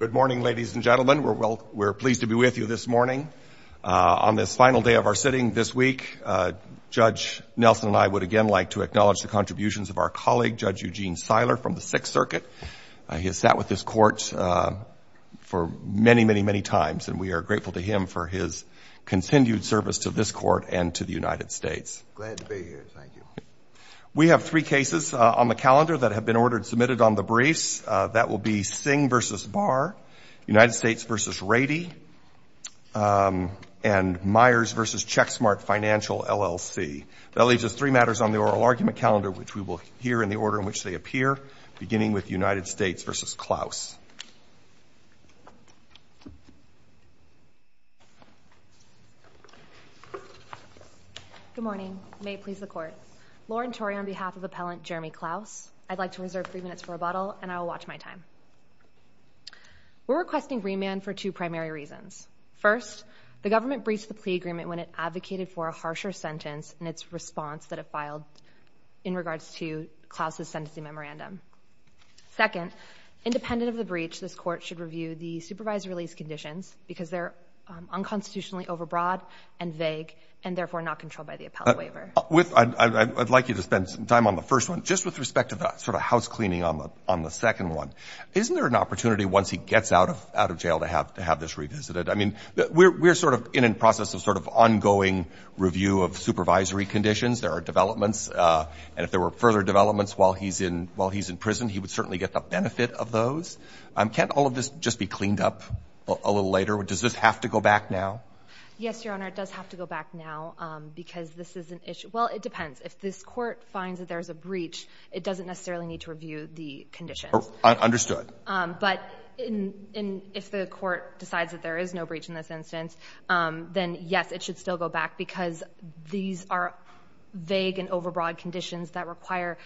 Good morning ladies and gentlemen we're well we're pleased to be with you this morning. On this final day of our sitting this week Judge Nelson and I would again like to acknowledge the contributions of our colleague Judge Eugene Seiler from the Sixth Circuit. He has sat with this court for many many many times and we are grateful to him for his continued service to this court and to the United States. We have three cases on the calendar that have been ordered submitted on the briefs that will be Singh v. Barr, United States v. Rady and Myers v. Checksmart Financial LLC. That leaves us three matters on the oral argument calendar which we will hear in the order in which they appear beginning with Lauren Tory on behalf of appellant Jeremy Clouse I'd like to reserve three minutes for rebuttal and I'll watch my time. We're requesting remand for two primary reasons. First the government breached the plea agreement when it advocated for a harsher sentence and its response that it filed in regards to Clouse's sentencing memorandum. Second independent of the breach this court should review the supervised release conditions because they're unconstitutionally overbroad and vague and therefore not controlled by the I'd like you to spend some time on the first one just with respect to that sort of housecleaning on the on the second one. Isn't there an opportunity once he gets out of out of jail to have to have this revisited? I mean we're sort of in in process of sort of ongoing review of supervisory conditions. There are developments and if there were further developments while he's in while he's in prison he would certainly get the benefit of those. Can't all of this just be cleaned up a little later? Does this have to go back now? Yes your honor it does have to go back now because this is an issue well it depends if this court finds that there's a breach it doesn't necessarily need to review the conditions. Understood. But in in if the court decides that there is no breach in this instance then yes it should still go back because these are vague and overbroad conditions that require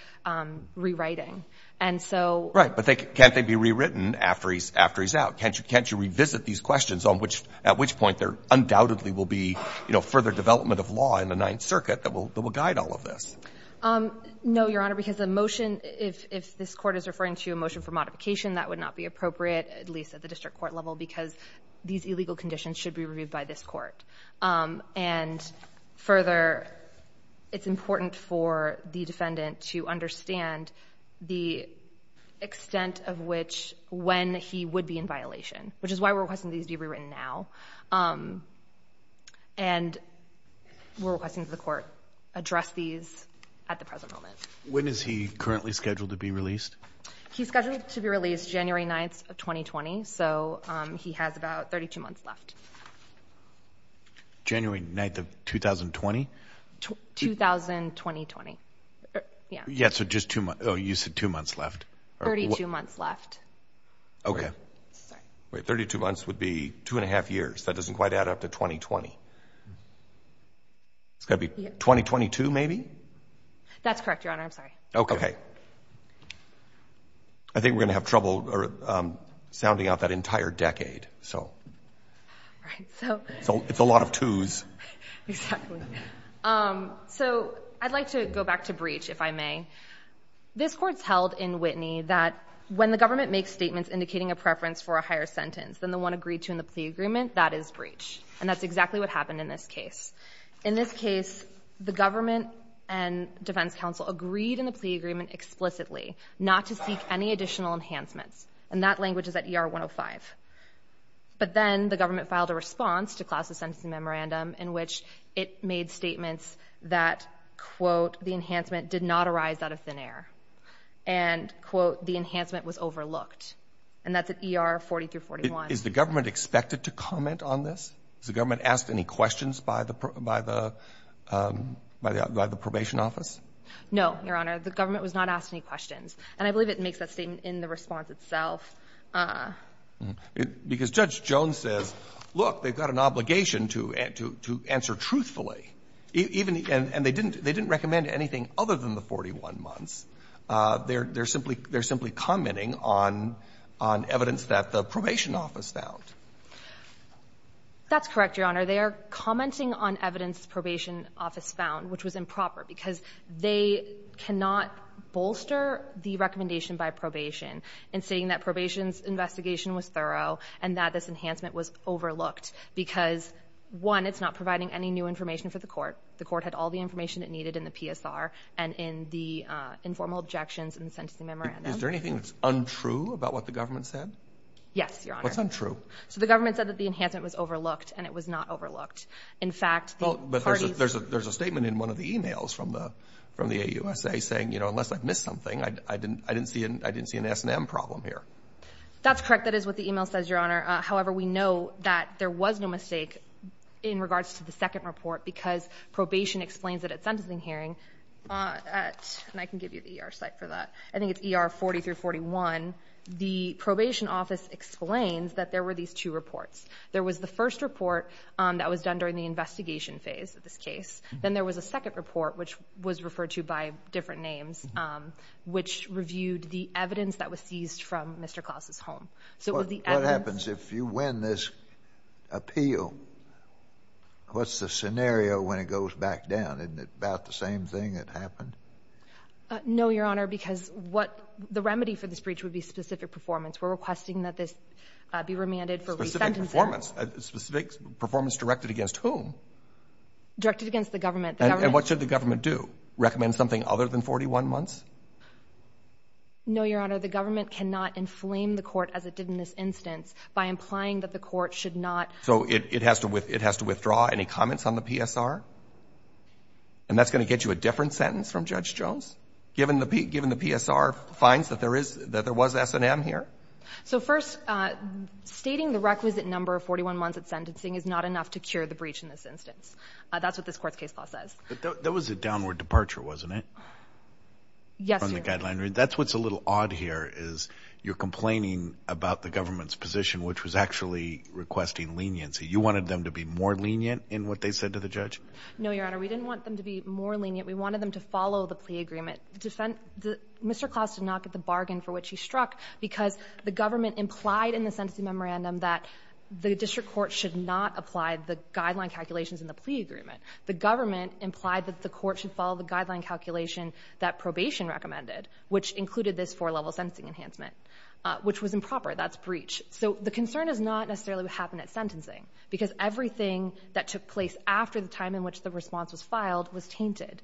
rewriting and so. Right but they can't they be rewritten after he's after he's out can't you can't you revisit these questions on which at which point there undoubtedly will be you know further development of law in the Ninth Circuit that will guide all of this? No your honor because the motion if if this court is referring to a motion for modification that would not be appropriate at least at the district court level because these illegal conditions should be reviewed by this court and further it's important for the defendant to understand the extent of which when he would be in violation which is why we're requesting these be rewritten now and we're requesting to the court address these at the present moment. When is he currently scheduled to be released? He's scheduled to be released January 9th of 2020 so he has about 32 months left. January 9th of 2020? 2020. Yeah. Yeah so just two months oh 32 months left. Okay wait 32 months would be two and a half years that doesn't quite add up to 2020. It's gonna be 2022 maybe? That's correct your honor I'm sorry. Okay I think we're gonna have trouble or sounding out that entire decade so it's a lot of twos. So I'd like to go back to that when the government makes statements indicating a preference for a higher sentence than the one agreed to in the plea agreement that is breach and that's exactly what happened in this case. In this case the government and defense counsel agreed in the plea agreement explicitly not to seek any additional enhancements and that language is at ER 105 but then the government filed a response to Klaus's sentencing memorandum in which it made statements that quote the enhancement did not arise out of thin air and quote the enhancement was overlooked and that's at ER 40 through 41. Is the government expected to comment on this? Has the government asked any questions by the by the by the by the probation office? No your honor the government was not asked any questions and I believe it makes that statement in the response itself. Because Judge Jones says look they've got an obligation to add to to truthfully even and they didn't they didn't recommend anything other than the 41 months. They're they're simply they're simply commenting on on evidence that the probation office found. That's correct your honor they are commenting on evidence probation office found which was improper because they cannot bolster the recommendation by probation in saying that probation's investigation was thorough and that this for the court. The court had all the information it needed in the PSR and in the informal objections in the sentencing memorandum. Is there anything that's untrue about what the government said? Yes your honor. What's untrue? So the government said that the enhancement was overlooked and it was not overlooked. In fact. Well but there's a there's a statement in one of the emails from the from the AUSA saying you know unless I've missed something I didn't I didn't see an I didn't see an S&M problem here. That's correct that is what the email says your honor. However we know that there was no mistake in regards to the second report because probation explains that at sentencing hearing at and I can give you the ER site for that. I think it's ER 40 through 41. The probation office explains that there were these two reports. There was the first report that was done during the investigation phase of this case. Then there was a second report which was referred to by different names which reviewed the What happens if you win this appeal? What's the scenario when it goes back down? Isn't it about the same thing that happened? No your honor because what the remedy for this breach would be specific performance. We're requesting that this be remanded for re-sentencing. Specific performance directed against whom? Directed against the government. And what should the government do? Recommend something other than 41 months? No your honor the government cannot inflame the by implying that the court should not. So it has to withdraw any comments on the PSR? And that's going to get you a different sentence from Judge Jones? Given the PSR finds that there is that there was S&M here? So first stating the requisite number of 41 months at sentencing is not enough to cure the breach in this instance. That's what this court's case law says. That was a downward departure wasn't it? Yes your honor. That's what's a little odd here is you're complaining about the government's position which was actually requesting leniency. You wanted them to be more lenient in what they said to the judge? No your honor we didn't want them to be more lenient. We wanted them to follow the plea agreement. Mr. Klaus did not get the bargain for which he struck because the government implied in the sentencing memorandum that the district court should not apply the guideline calculations in the plea agreement. The government implied that the court should follow the guideline calculation that probation recommended which included this four level sentencing enhancement which was improper. That's breach. So the concern is not necessarily what happened at sentencing because everything that took place after the time in which the response was filed was tainted.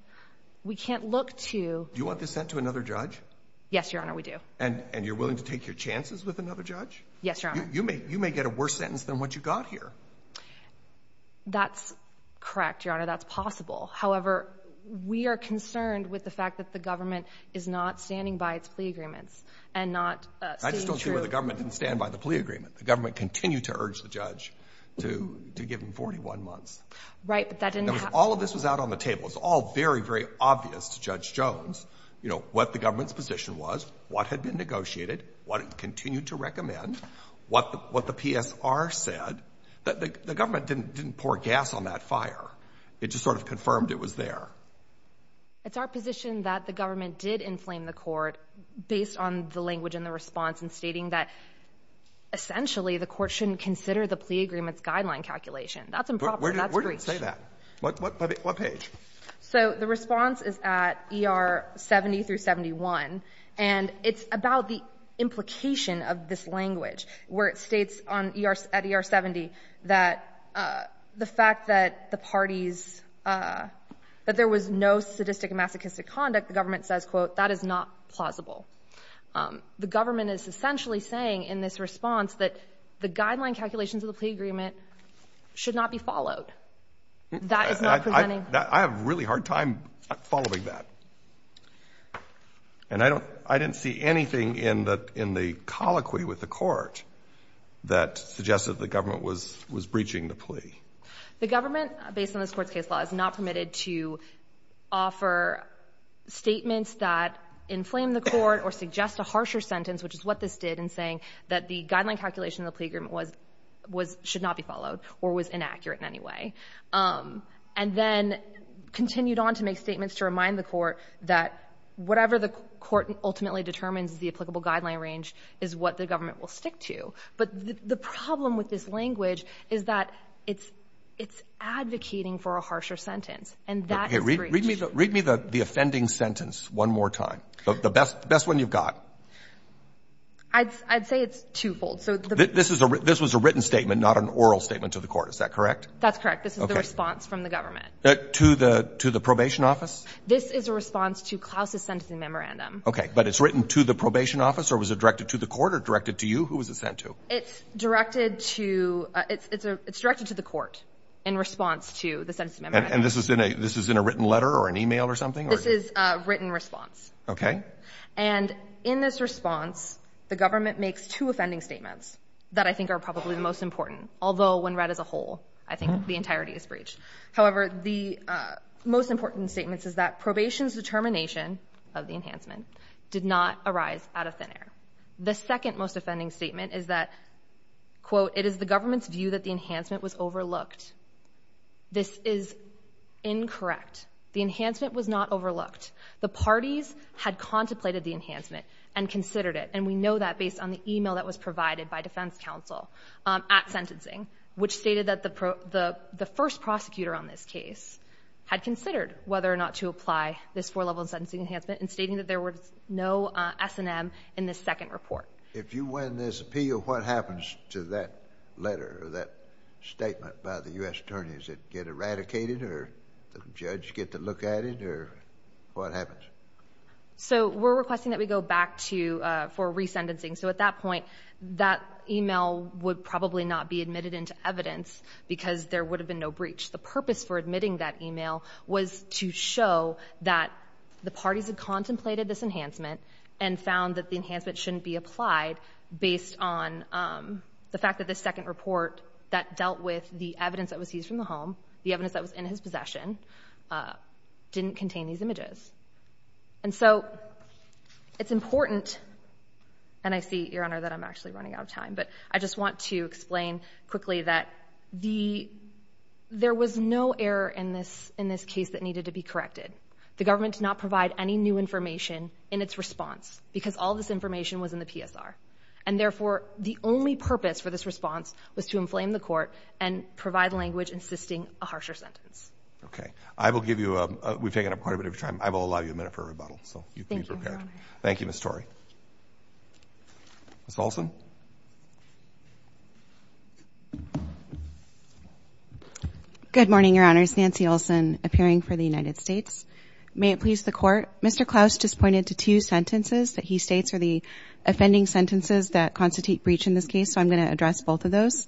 We can't look to... Do you want this sent to another judge? Yes your honor we do. And and you're willing to take your chances with another judge? Yes your honor. You may you may get a worse sentence than what you got here. That's correct your honor that's possible. However we are concerned with the fact that the government is not standing by its plea agreements and not... I just don't see where the government didn't stand by the plea agreement. The government continued to urge the judge to to give him 41 months. Right but that didn't... All of this was out on the table. It's all very very obvious to Judge Jones you know what the government's position was, what had been negotiated, what it continued to recommend, what the what the PSR said. That the government didn't didn't pour gas on that fire. It just sort of confirmed it was there. It's our position that the government did inflame the based on the language in the response and stating that essentially the court shouldn't consider the plea agreements guideline calculation. That's improper. Where did it say that? What page? So the response is at ER 70 through 71 and it's about the implication of this language where it states on ER at ER 70 that the fact that the parties that there was no sadistic masochistic conduct the plausible. The government is essentially saying in this response that the guideline calculations of the plea agreement should not be followed. That is not presenting... I have a really hard time following that and I don't I didn't see anything in the in the colloquy with the court that suggested the government was was breaching the plea. The government based on this court's case law is not for statements that inflame the court or suggest a harsher sentence which is what this did in saying that the guideline calculation of the plea agreement was was should not be followed or was inaccurate in any way. And then continued on to make statements to remind the court that whatever the court ultimately determines the applicable guideline range is what the government will stick to. But the problem with this language is that it's it's advocating for a harsher sentence and that... Read me the offending sentence one more time. The best best one you've got. I'd say it's twofold. So this is a written statement not an oral statement to the court is that correct? That's correct. This is the response from the government. To the to the probation office? This is a response to Klaus's sentencing memorandum. Okay but it's written to the probation office or was it directed to the court or directed to you? Who was it sent to? It's directed to the court in response to the sentencing memorandum. And this is in a this is in a written letter or an email or something? This is a written response. Okay. And in this response the government makes two offending statements that I think are probably the most important. Although when read as a whole I think the entirety is breached. However the most important statements is that probation's determination of the enhancement did not arise out of thin air. The second most view that the enhancement was overlooked. This is incorrect. The enhancement was not overlooked. The parties had contemplated the enhancement and considered it. And we know that based on the email that was provided by defense counsel at sentencing which stated that the the the first prosecutor on this case had considered whether or not to apply this four level of sentencing enhancement and stating that there were no S&M in this second report. If you win this appeal what happens to that letter or that statement by the U.S. attorneys? It get eradicated or the judge get to look at it or what happens? So we're requesting that we go back to for re-sentencing. So at that point that email would probably not be admitted into evidence because there would have been no breach. The purpose for admitting that email was to show that the parties had contemplated this enhancement and found that the enhancement shouldn't be applied based on the fact that the second report that dealt with the evidence that was seized from the home, the evidence that was in his possession, didn't contain these images. And so it's important and I see your honor that I'm actually running out of time but I just want to explain quickly that the there was no error in this in this case that needed to be corrected. The government did not provide any new information in its response because all this are and therefore the only purpose for this response was to inflame the court and provide language insisting a harsher sentence. Okay I will give you a we've taken up quite a bit of time. I will allow you a minute for rebuttal. Thank you Miss Torrey. Miss Olson. Good morning your honors. Nancy Olson appearing for the United States. May it please the court. Mr. Klaus just pointed to two sentences that he states are the offending sentences that constitute breach in this case. So I'm going to address both of those.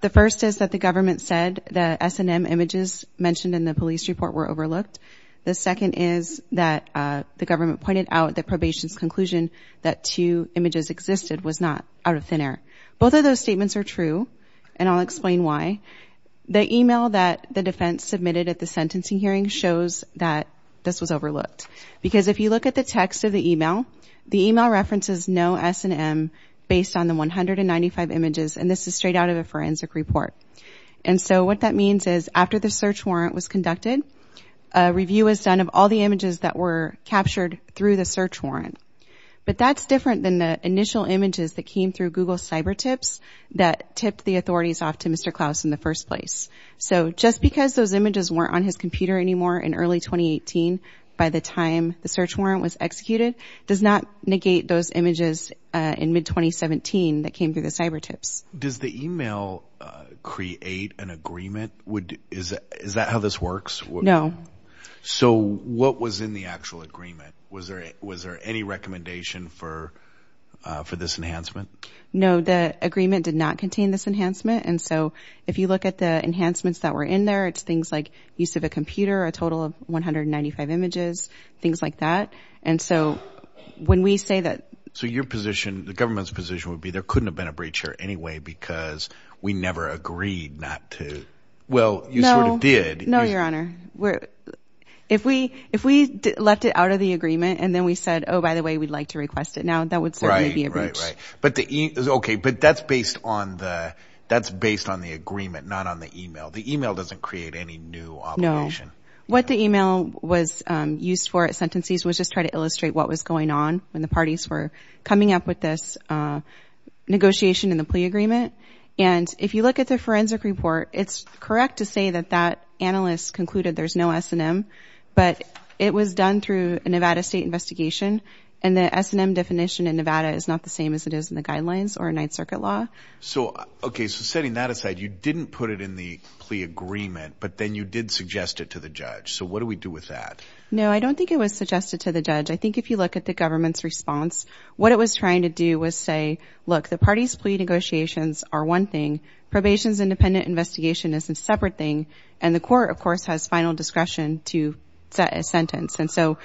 The first is that the government said the S&M images mentioned in the police report were overlooked. The second is that the government pointed out the probation's conclusion that two images existed was not out of thin air. Both of those statements are true and I'll explain why. The email that the defense submitted at the sentencing hearing shows that this was overlooked. Because if you look at the text of the email, the email references no S&M based on the 195 images and this is straight out of a forensic report. And so what that means is after the search warrant was conducted, a review is done of all the images that were captured through the search warrant. But that's different than the initial images that came through Google Cyber Tips that tipped the authorities off to Mr. Klaus in the first place. So just because those images weren't on his computer anymore in early 2018, by the time the search warrant was executed, does not negate those images in mid-2017 that came through the Cyber Tips. Does the email create an agreement? Is that how this works? No. So what was in the actual agreement? Was there any recommendation for this enhancement? No, the agreement did not contain this enhancement. And so if you look at the enhancements that were in there, it's things like use of a computer, a total of 195 images, things like that. And so when we say that... So your position, the government's position would be there couldn't have been a breach here anyway because we never agreed not to... Well, you sort of did. No, your honor. If we left it out of the agreement and then we said, oh by the way, we'd like to request it now, that would be a breach. Right, right. But that's based on the agreement, not on the email. The email doesn't create any new obligation. No. What the email was used for at Sentencies was just try to illustrate what was going on when the parties were coming up with this negotiation in the plea agreement. And if you look at the forensic report, it's correct to say that that analyst concluded there's no S&M, but it was done through a Nevada State investigation. And the S&M definition in Nevada is not the same as it is in the guidelines or in Ninth Circuit law. So, okay, so setting that aside, you didn't put it in the plea agreement, but then you did suggest it to the judge. So what do we do with that? No, I don't think it was suggested to the judge. I think if you look at the government's response, what it was trying to do was say, look, the parties plea negotiations are one thing, probation's independent investigation is a separate thing, and the court, of course, has final discretion to set a sentence. And so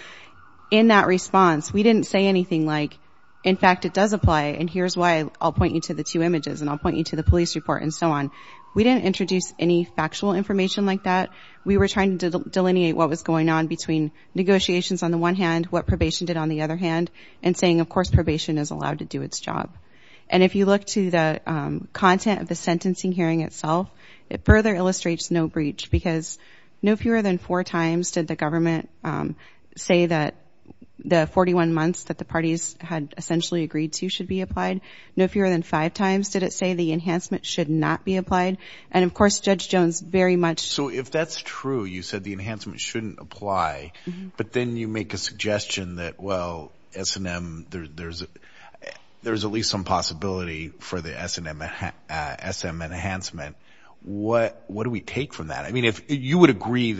in that response, we didn't say anything like, in fact, it does apply, and here's why I'll point you to the two images, and I'll point you to the police report, and so on. We didn't introduce any factual information like that. We were trying to delineate what was going on between negotiations on the one hand, what probation did on the other hand, and saying, of course, probation is allowed to do its job. And if you look to the content of the sentencing hearing itself, it further illustrates no breach, because no fewer than four times did the government say that the 41 months that the parties had essentially agreed to should be applied. No fewer than five times did it say the enhancement should not be applied. And, of course, Judge Jones very much... So if that's true, you said the enhancement shouldn't apply, but then you make a suggestion that, well, S&M, there's at least some that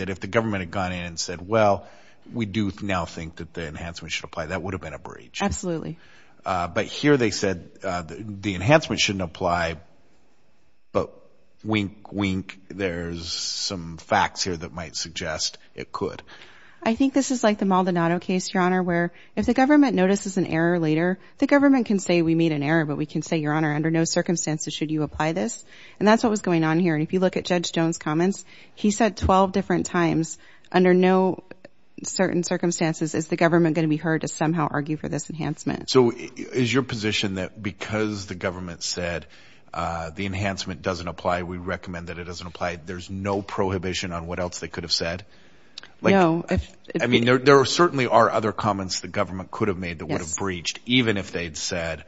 if the government had gone in and said, well, we do now think that the enhancement should apply, that would have been a breach. Absolutely. But here they said the enhancement shouldn't apply, but wink, wink, there's some facts here that might suggest it could. I think this is like the Maldonado case, Your Honor, where if the government notices an error later, the government can say we made an error, but we can say, Your Honor, under no circumstances should you apply this. And that's what was going on here. And if you look at Judge Jones' comments, he said 12 different times, under no certain circumstances is the government going to be heard to somehow argue for this enhancement. So is your position that because the government said the enhancement doesn't apply, we recommend that it doesn't apply, there's no prohibition on what else they could have said? No. I mean, there certainly are other comments the government could have made that would have breached, even if they'd said,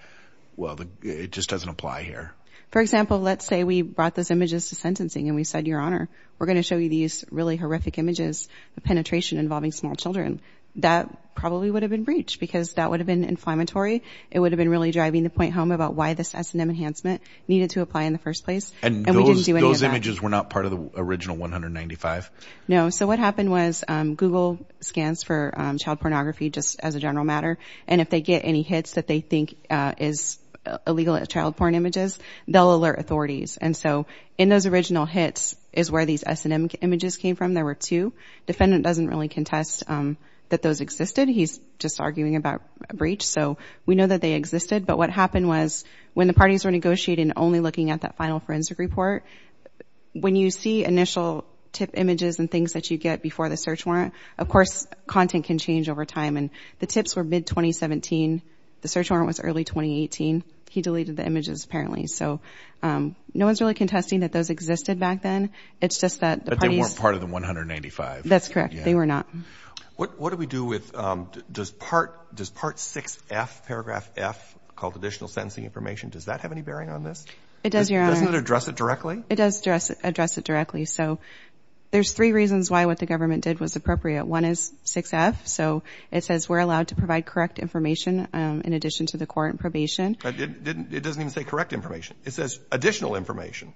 well, it just doesn't apply here. For example, let's say we brought those images to sentencing and we said, Your Honor, we're going to show you these really horrific images of penetration involving small children. That probably would have been breached because that would have been inflammatory. It would have been really driving the point home about why this S&M enhancement needed to apply in the first place. And those images were not part of the original 195? No. So what happened was Google scans for child pornography, just as a general matter, and if they get any hits that they think is illegal at child porn images, they'll alert authorities. And so in those original hits is where these S&M images came from. There were two. Defendant doesn't really contest that those existed. He's just arguing about a breach. So we know that they existed. But what happened was when the parties were negotiating, only looking at that final forensic report, when you see initial tip images and things that you get before the search warrant, of course, content can change over time. And the tips were mid-2017. The search warrant was early 2018. He deleted the images, apparently. So no one's really contesting that those existed back then. It's just that the parties... But they weren't part of the 195? That's correct. They were not. What do we do with... Does part 6F, paragraph F, called additional sentencing information, does that have any bearing on this? It does, Your Honor. Doesn't it address it directly? It does address it directly. So there's three reasons why what the government did was appropriate. One is 6F. So it says we're allowed to provide correct information in addition to the court and probation. It doesn't even say correct information. It says additional information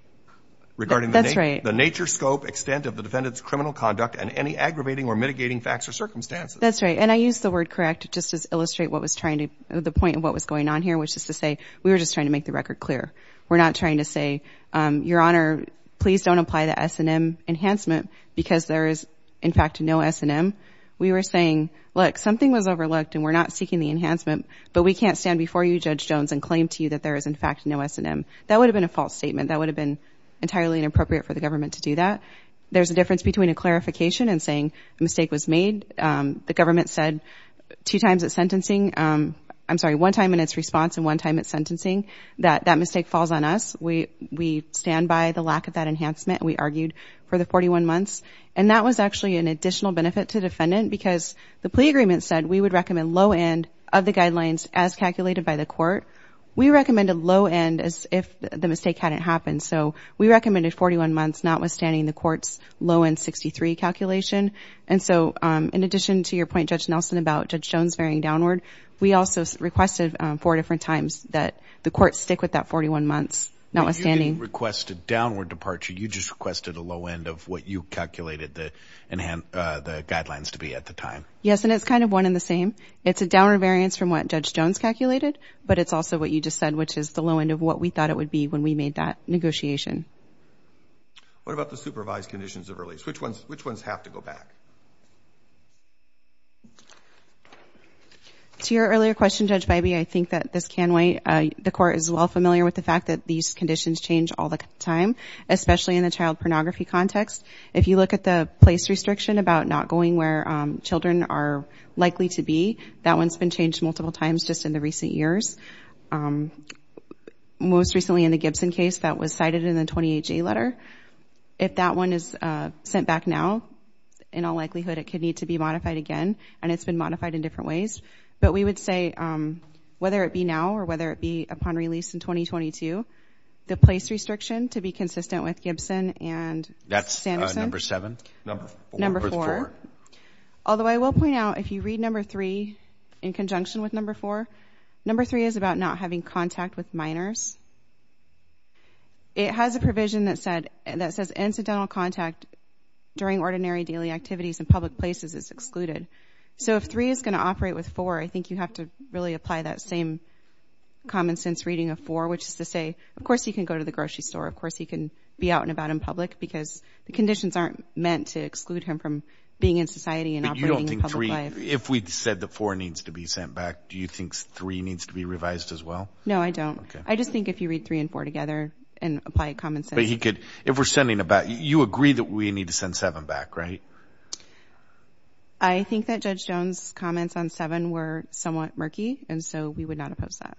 regarding the nature, scope, extent of the defendant's criminal conduct and any aggravating or mitigating facts or circumstances. That's right. And I use the word correct just to illustrate what was trying to... the point of what was going on here, which is to say we were just trying to make the record clear. We're not trying to say, Your Honor, please don't apply the S&M enhancement because there is, in fact, no S&M. We were saying, look, something was overlooked and we're not seeking the enhancement, but we can't stand before you, Judge Jones, and claim to you that there is, in fact, no S&M. That would have been a false statement. That would have been entirely inappropriate for the government to do that. There's a difference between a clarification and saying the mistake was made. The government said two times at sentencing... I'm sorry, one time in its response and one time at sentencing that that mistake falls on us. We stand by the lack of that enhancement. We argued for the 41 months. And that was actually an additional benefit to the defendant because the plea agreement said we would recommend low-end of the guidelines as calculated by the court. We recommended low-end as if the mistake hadn't happened. So we recommended 41 months, notwithstanding the court's low-end 63 calculation. And so, in addition to your point, Judge Nelson, about Judge Jones varying downward, we also requested four different times that the court stick with that 41 months, notwithstanding... You didn't request a downward departure. You just requested a low-end of what you calculated the guidelines to be at the time. Yes, and it's kind of one in the same. It's a downward variance from what Judge Jones calculated, but it's also what you just said, which is the low-end of what we thought it would be when we made that negotiation. What about the supervised conditions of release? Which ones have to go back? To your earlier question, Judge Bybee, I think that this can wait. The court is well familiar with the fact that these conditions change all the time, especially in the child pornography context. If you look at the place restriction about not going where children are likely to be, that one's been changed multiple times just in the recent years. Most recently in the Gibson case, that was cited in the 20HA letter. If that one is sent back now, in all likelihood it could need to be modified again, and it's been modified in different ways. But we would say, whether it be now or whether it be upon release in 2022, the place restriction to be that's number four. Although I will point out, if you read number three in conjunction with number four, number three is about not having contact with minors. It has a provision that says, incidental contact during ordinary daily activities in public places is excluded. So if three is going to operate with four, I think you have to really apply that same common sense reading of four, which is to say, of course you can go to the grocery store, of course he can be out and about in public, because the conditions aren't meant to exclude him from being in society and operating in public life. If we said that four needs to be sent back, do you think three needs to be revised as well? No, I don't. I just think if you read three and four together and apply common sense. But he could, if we're sending about, you agree that we need to send seven back, right? I think that Judge Jones' comments on seven were somewhat murky, and so we would not oppose that.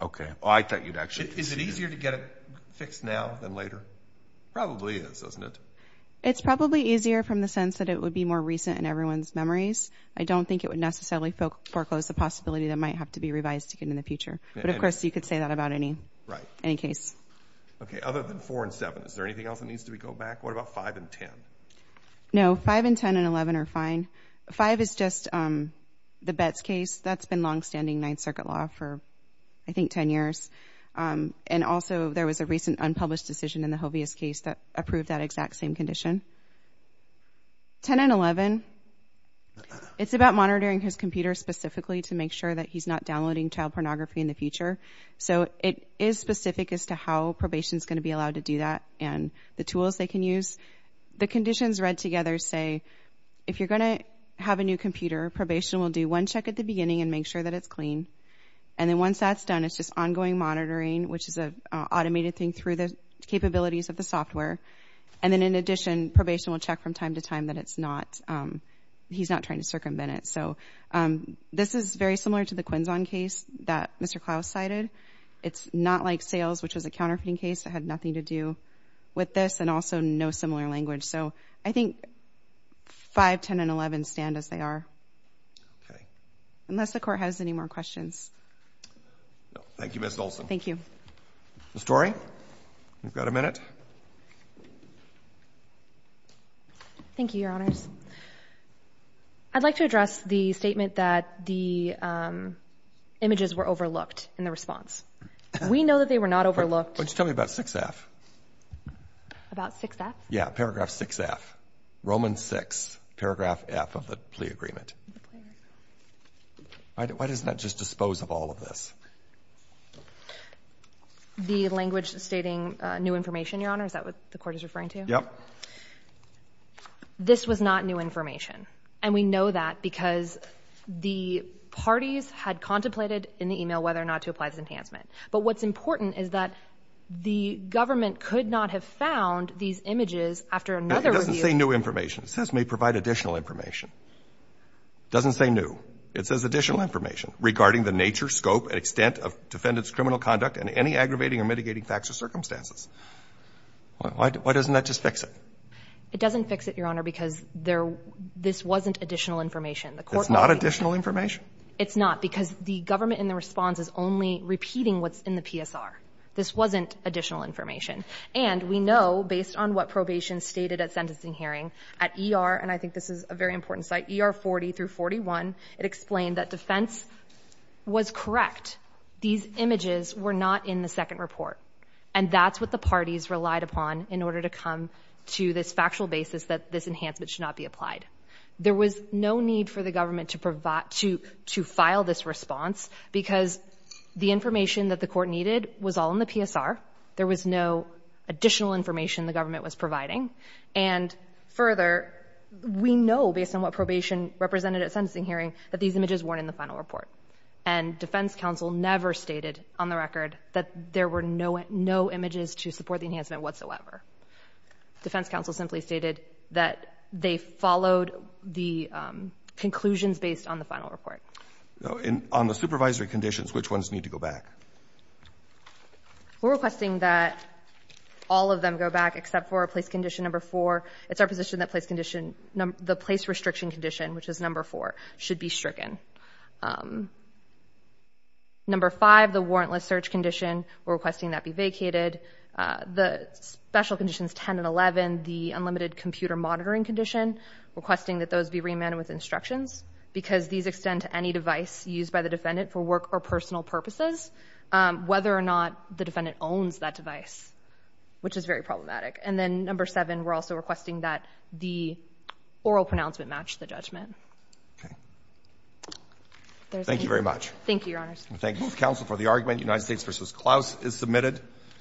Okay. I thought you'd actually... Is it easier to get it fixed now than later? Probably is, doesn't it? It's probably easier from the sense that it would be more recent in everyone's memories. I don't think it would necessarily foreclose the possibility that it might have to be revised again in the future. But of course, you could say that about any case. Right. Okay, other than four and seven, is there anything else that needs to go back? What about five and 10? No, five and 10 and 11 are fine. Five is just the Betts case. That's been long standing Ninth Circuit law for, I think, 10 years. And also, there was a recent unpublished decision in the Jovias case that approved that exact same condition. 10 and 11, it's about monitoring his computer specifically to make sure that he's not downloading child pornography in the future. So it is specific as to how probation's gonna be allowed to do that and the tools they can use. The conditions read together say, if you're gonna have a new computer, probation will do one check at the beginning and make sure that it's working. And then once that's done, it's just ongoing monitoring, which is an automated thing through the capabilities of the software. And then, in addition, probation will check from time to time that he's not trying to circumvent it. So this is very similar to the Quinzon case that Mr. Clouse cited. It's not like sales, which was a counterfeiting case that had nothing to do with this and also no similar language. So I think five, 10 and 11 stand as they are. Okay. Unless the court has any more questions. Thank you, Ms. Olson. Thank you. Ms. Torrey, you've got a minute. Thank you, Your Honors. I'd like to address the statement that the images were overlooked in the response. We know that they were not overlooked. Why don't you tell me about 6F? About 6F? Yeah, paragraph 6F. Roman 6, paragraph F of the plea agreement. Why doesn't that just dispose of all of this? The language stating new information, Your Honor, is that what the court is referring to? Yep. This was not new information. And we know that because the parties had contemplated in the email whether or not to apply this enhancement. But what's important is that the government could not have found these images after another review. It doesn't say new information. It says may provide additional information. It doesn't say new. It says additional information regarding the nature, scope and extent of defendant's criminal conduct and any aggravating or mitigating facts or circumstances. Why doesn't that just fix it? It doesn't fix it, Your Honor, because this wasn't additional information. The court It's not additional information? It's not, because the government in the response is only repeating what's in the PSR. This wasn't additional information. And we know based on what probation stated at sentencing hearing at ER, and I think this is a very important site, ER 40 through 41, it explained that defense was correct. These images were not in the second report. And that's what the parties relied upon in order to come to this factual basis that this enhancement should not be applied. There was no need for the government to file this response because the information that the court needed was all in the PSR. There was no additional information the government was providing. And further, we know based on what probation represented at sentencing hearing that these images weren't in the final report. And defense counsel never stated on the record that there were no no images to support the enhancement whatsoever. Defense counsel simply stated that they followed the conclusions based on the final report. On the supervisory conditions, which ones need to go back? We're requesting that all of them go back except for a place condition number four. It's our position that place condition, the place restriction condition, which is number four, should be stricken. Number five, the warrantless search condition, we're requesting that be vacated. The special conditions 10 and 11, the unlimited computer monitoring condition, requesting that those be remanded with instructions because these extend to any device used by the defendant for work or personal purposes, whether or not the defendant owns that device, which is very problematic. And then number seven, we're also requesting that the oral pronouncement match the judgment. Thank you very much. Thank you, Your Honor. Thank you, counsel, for the argument. United States versus Klaus is submitted.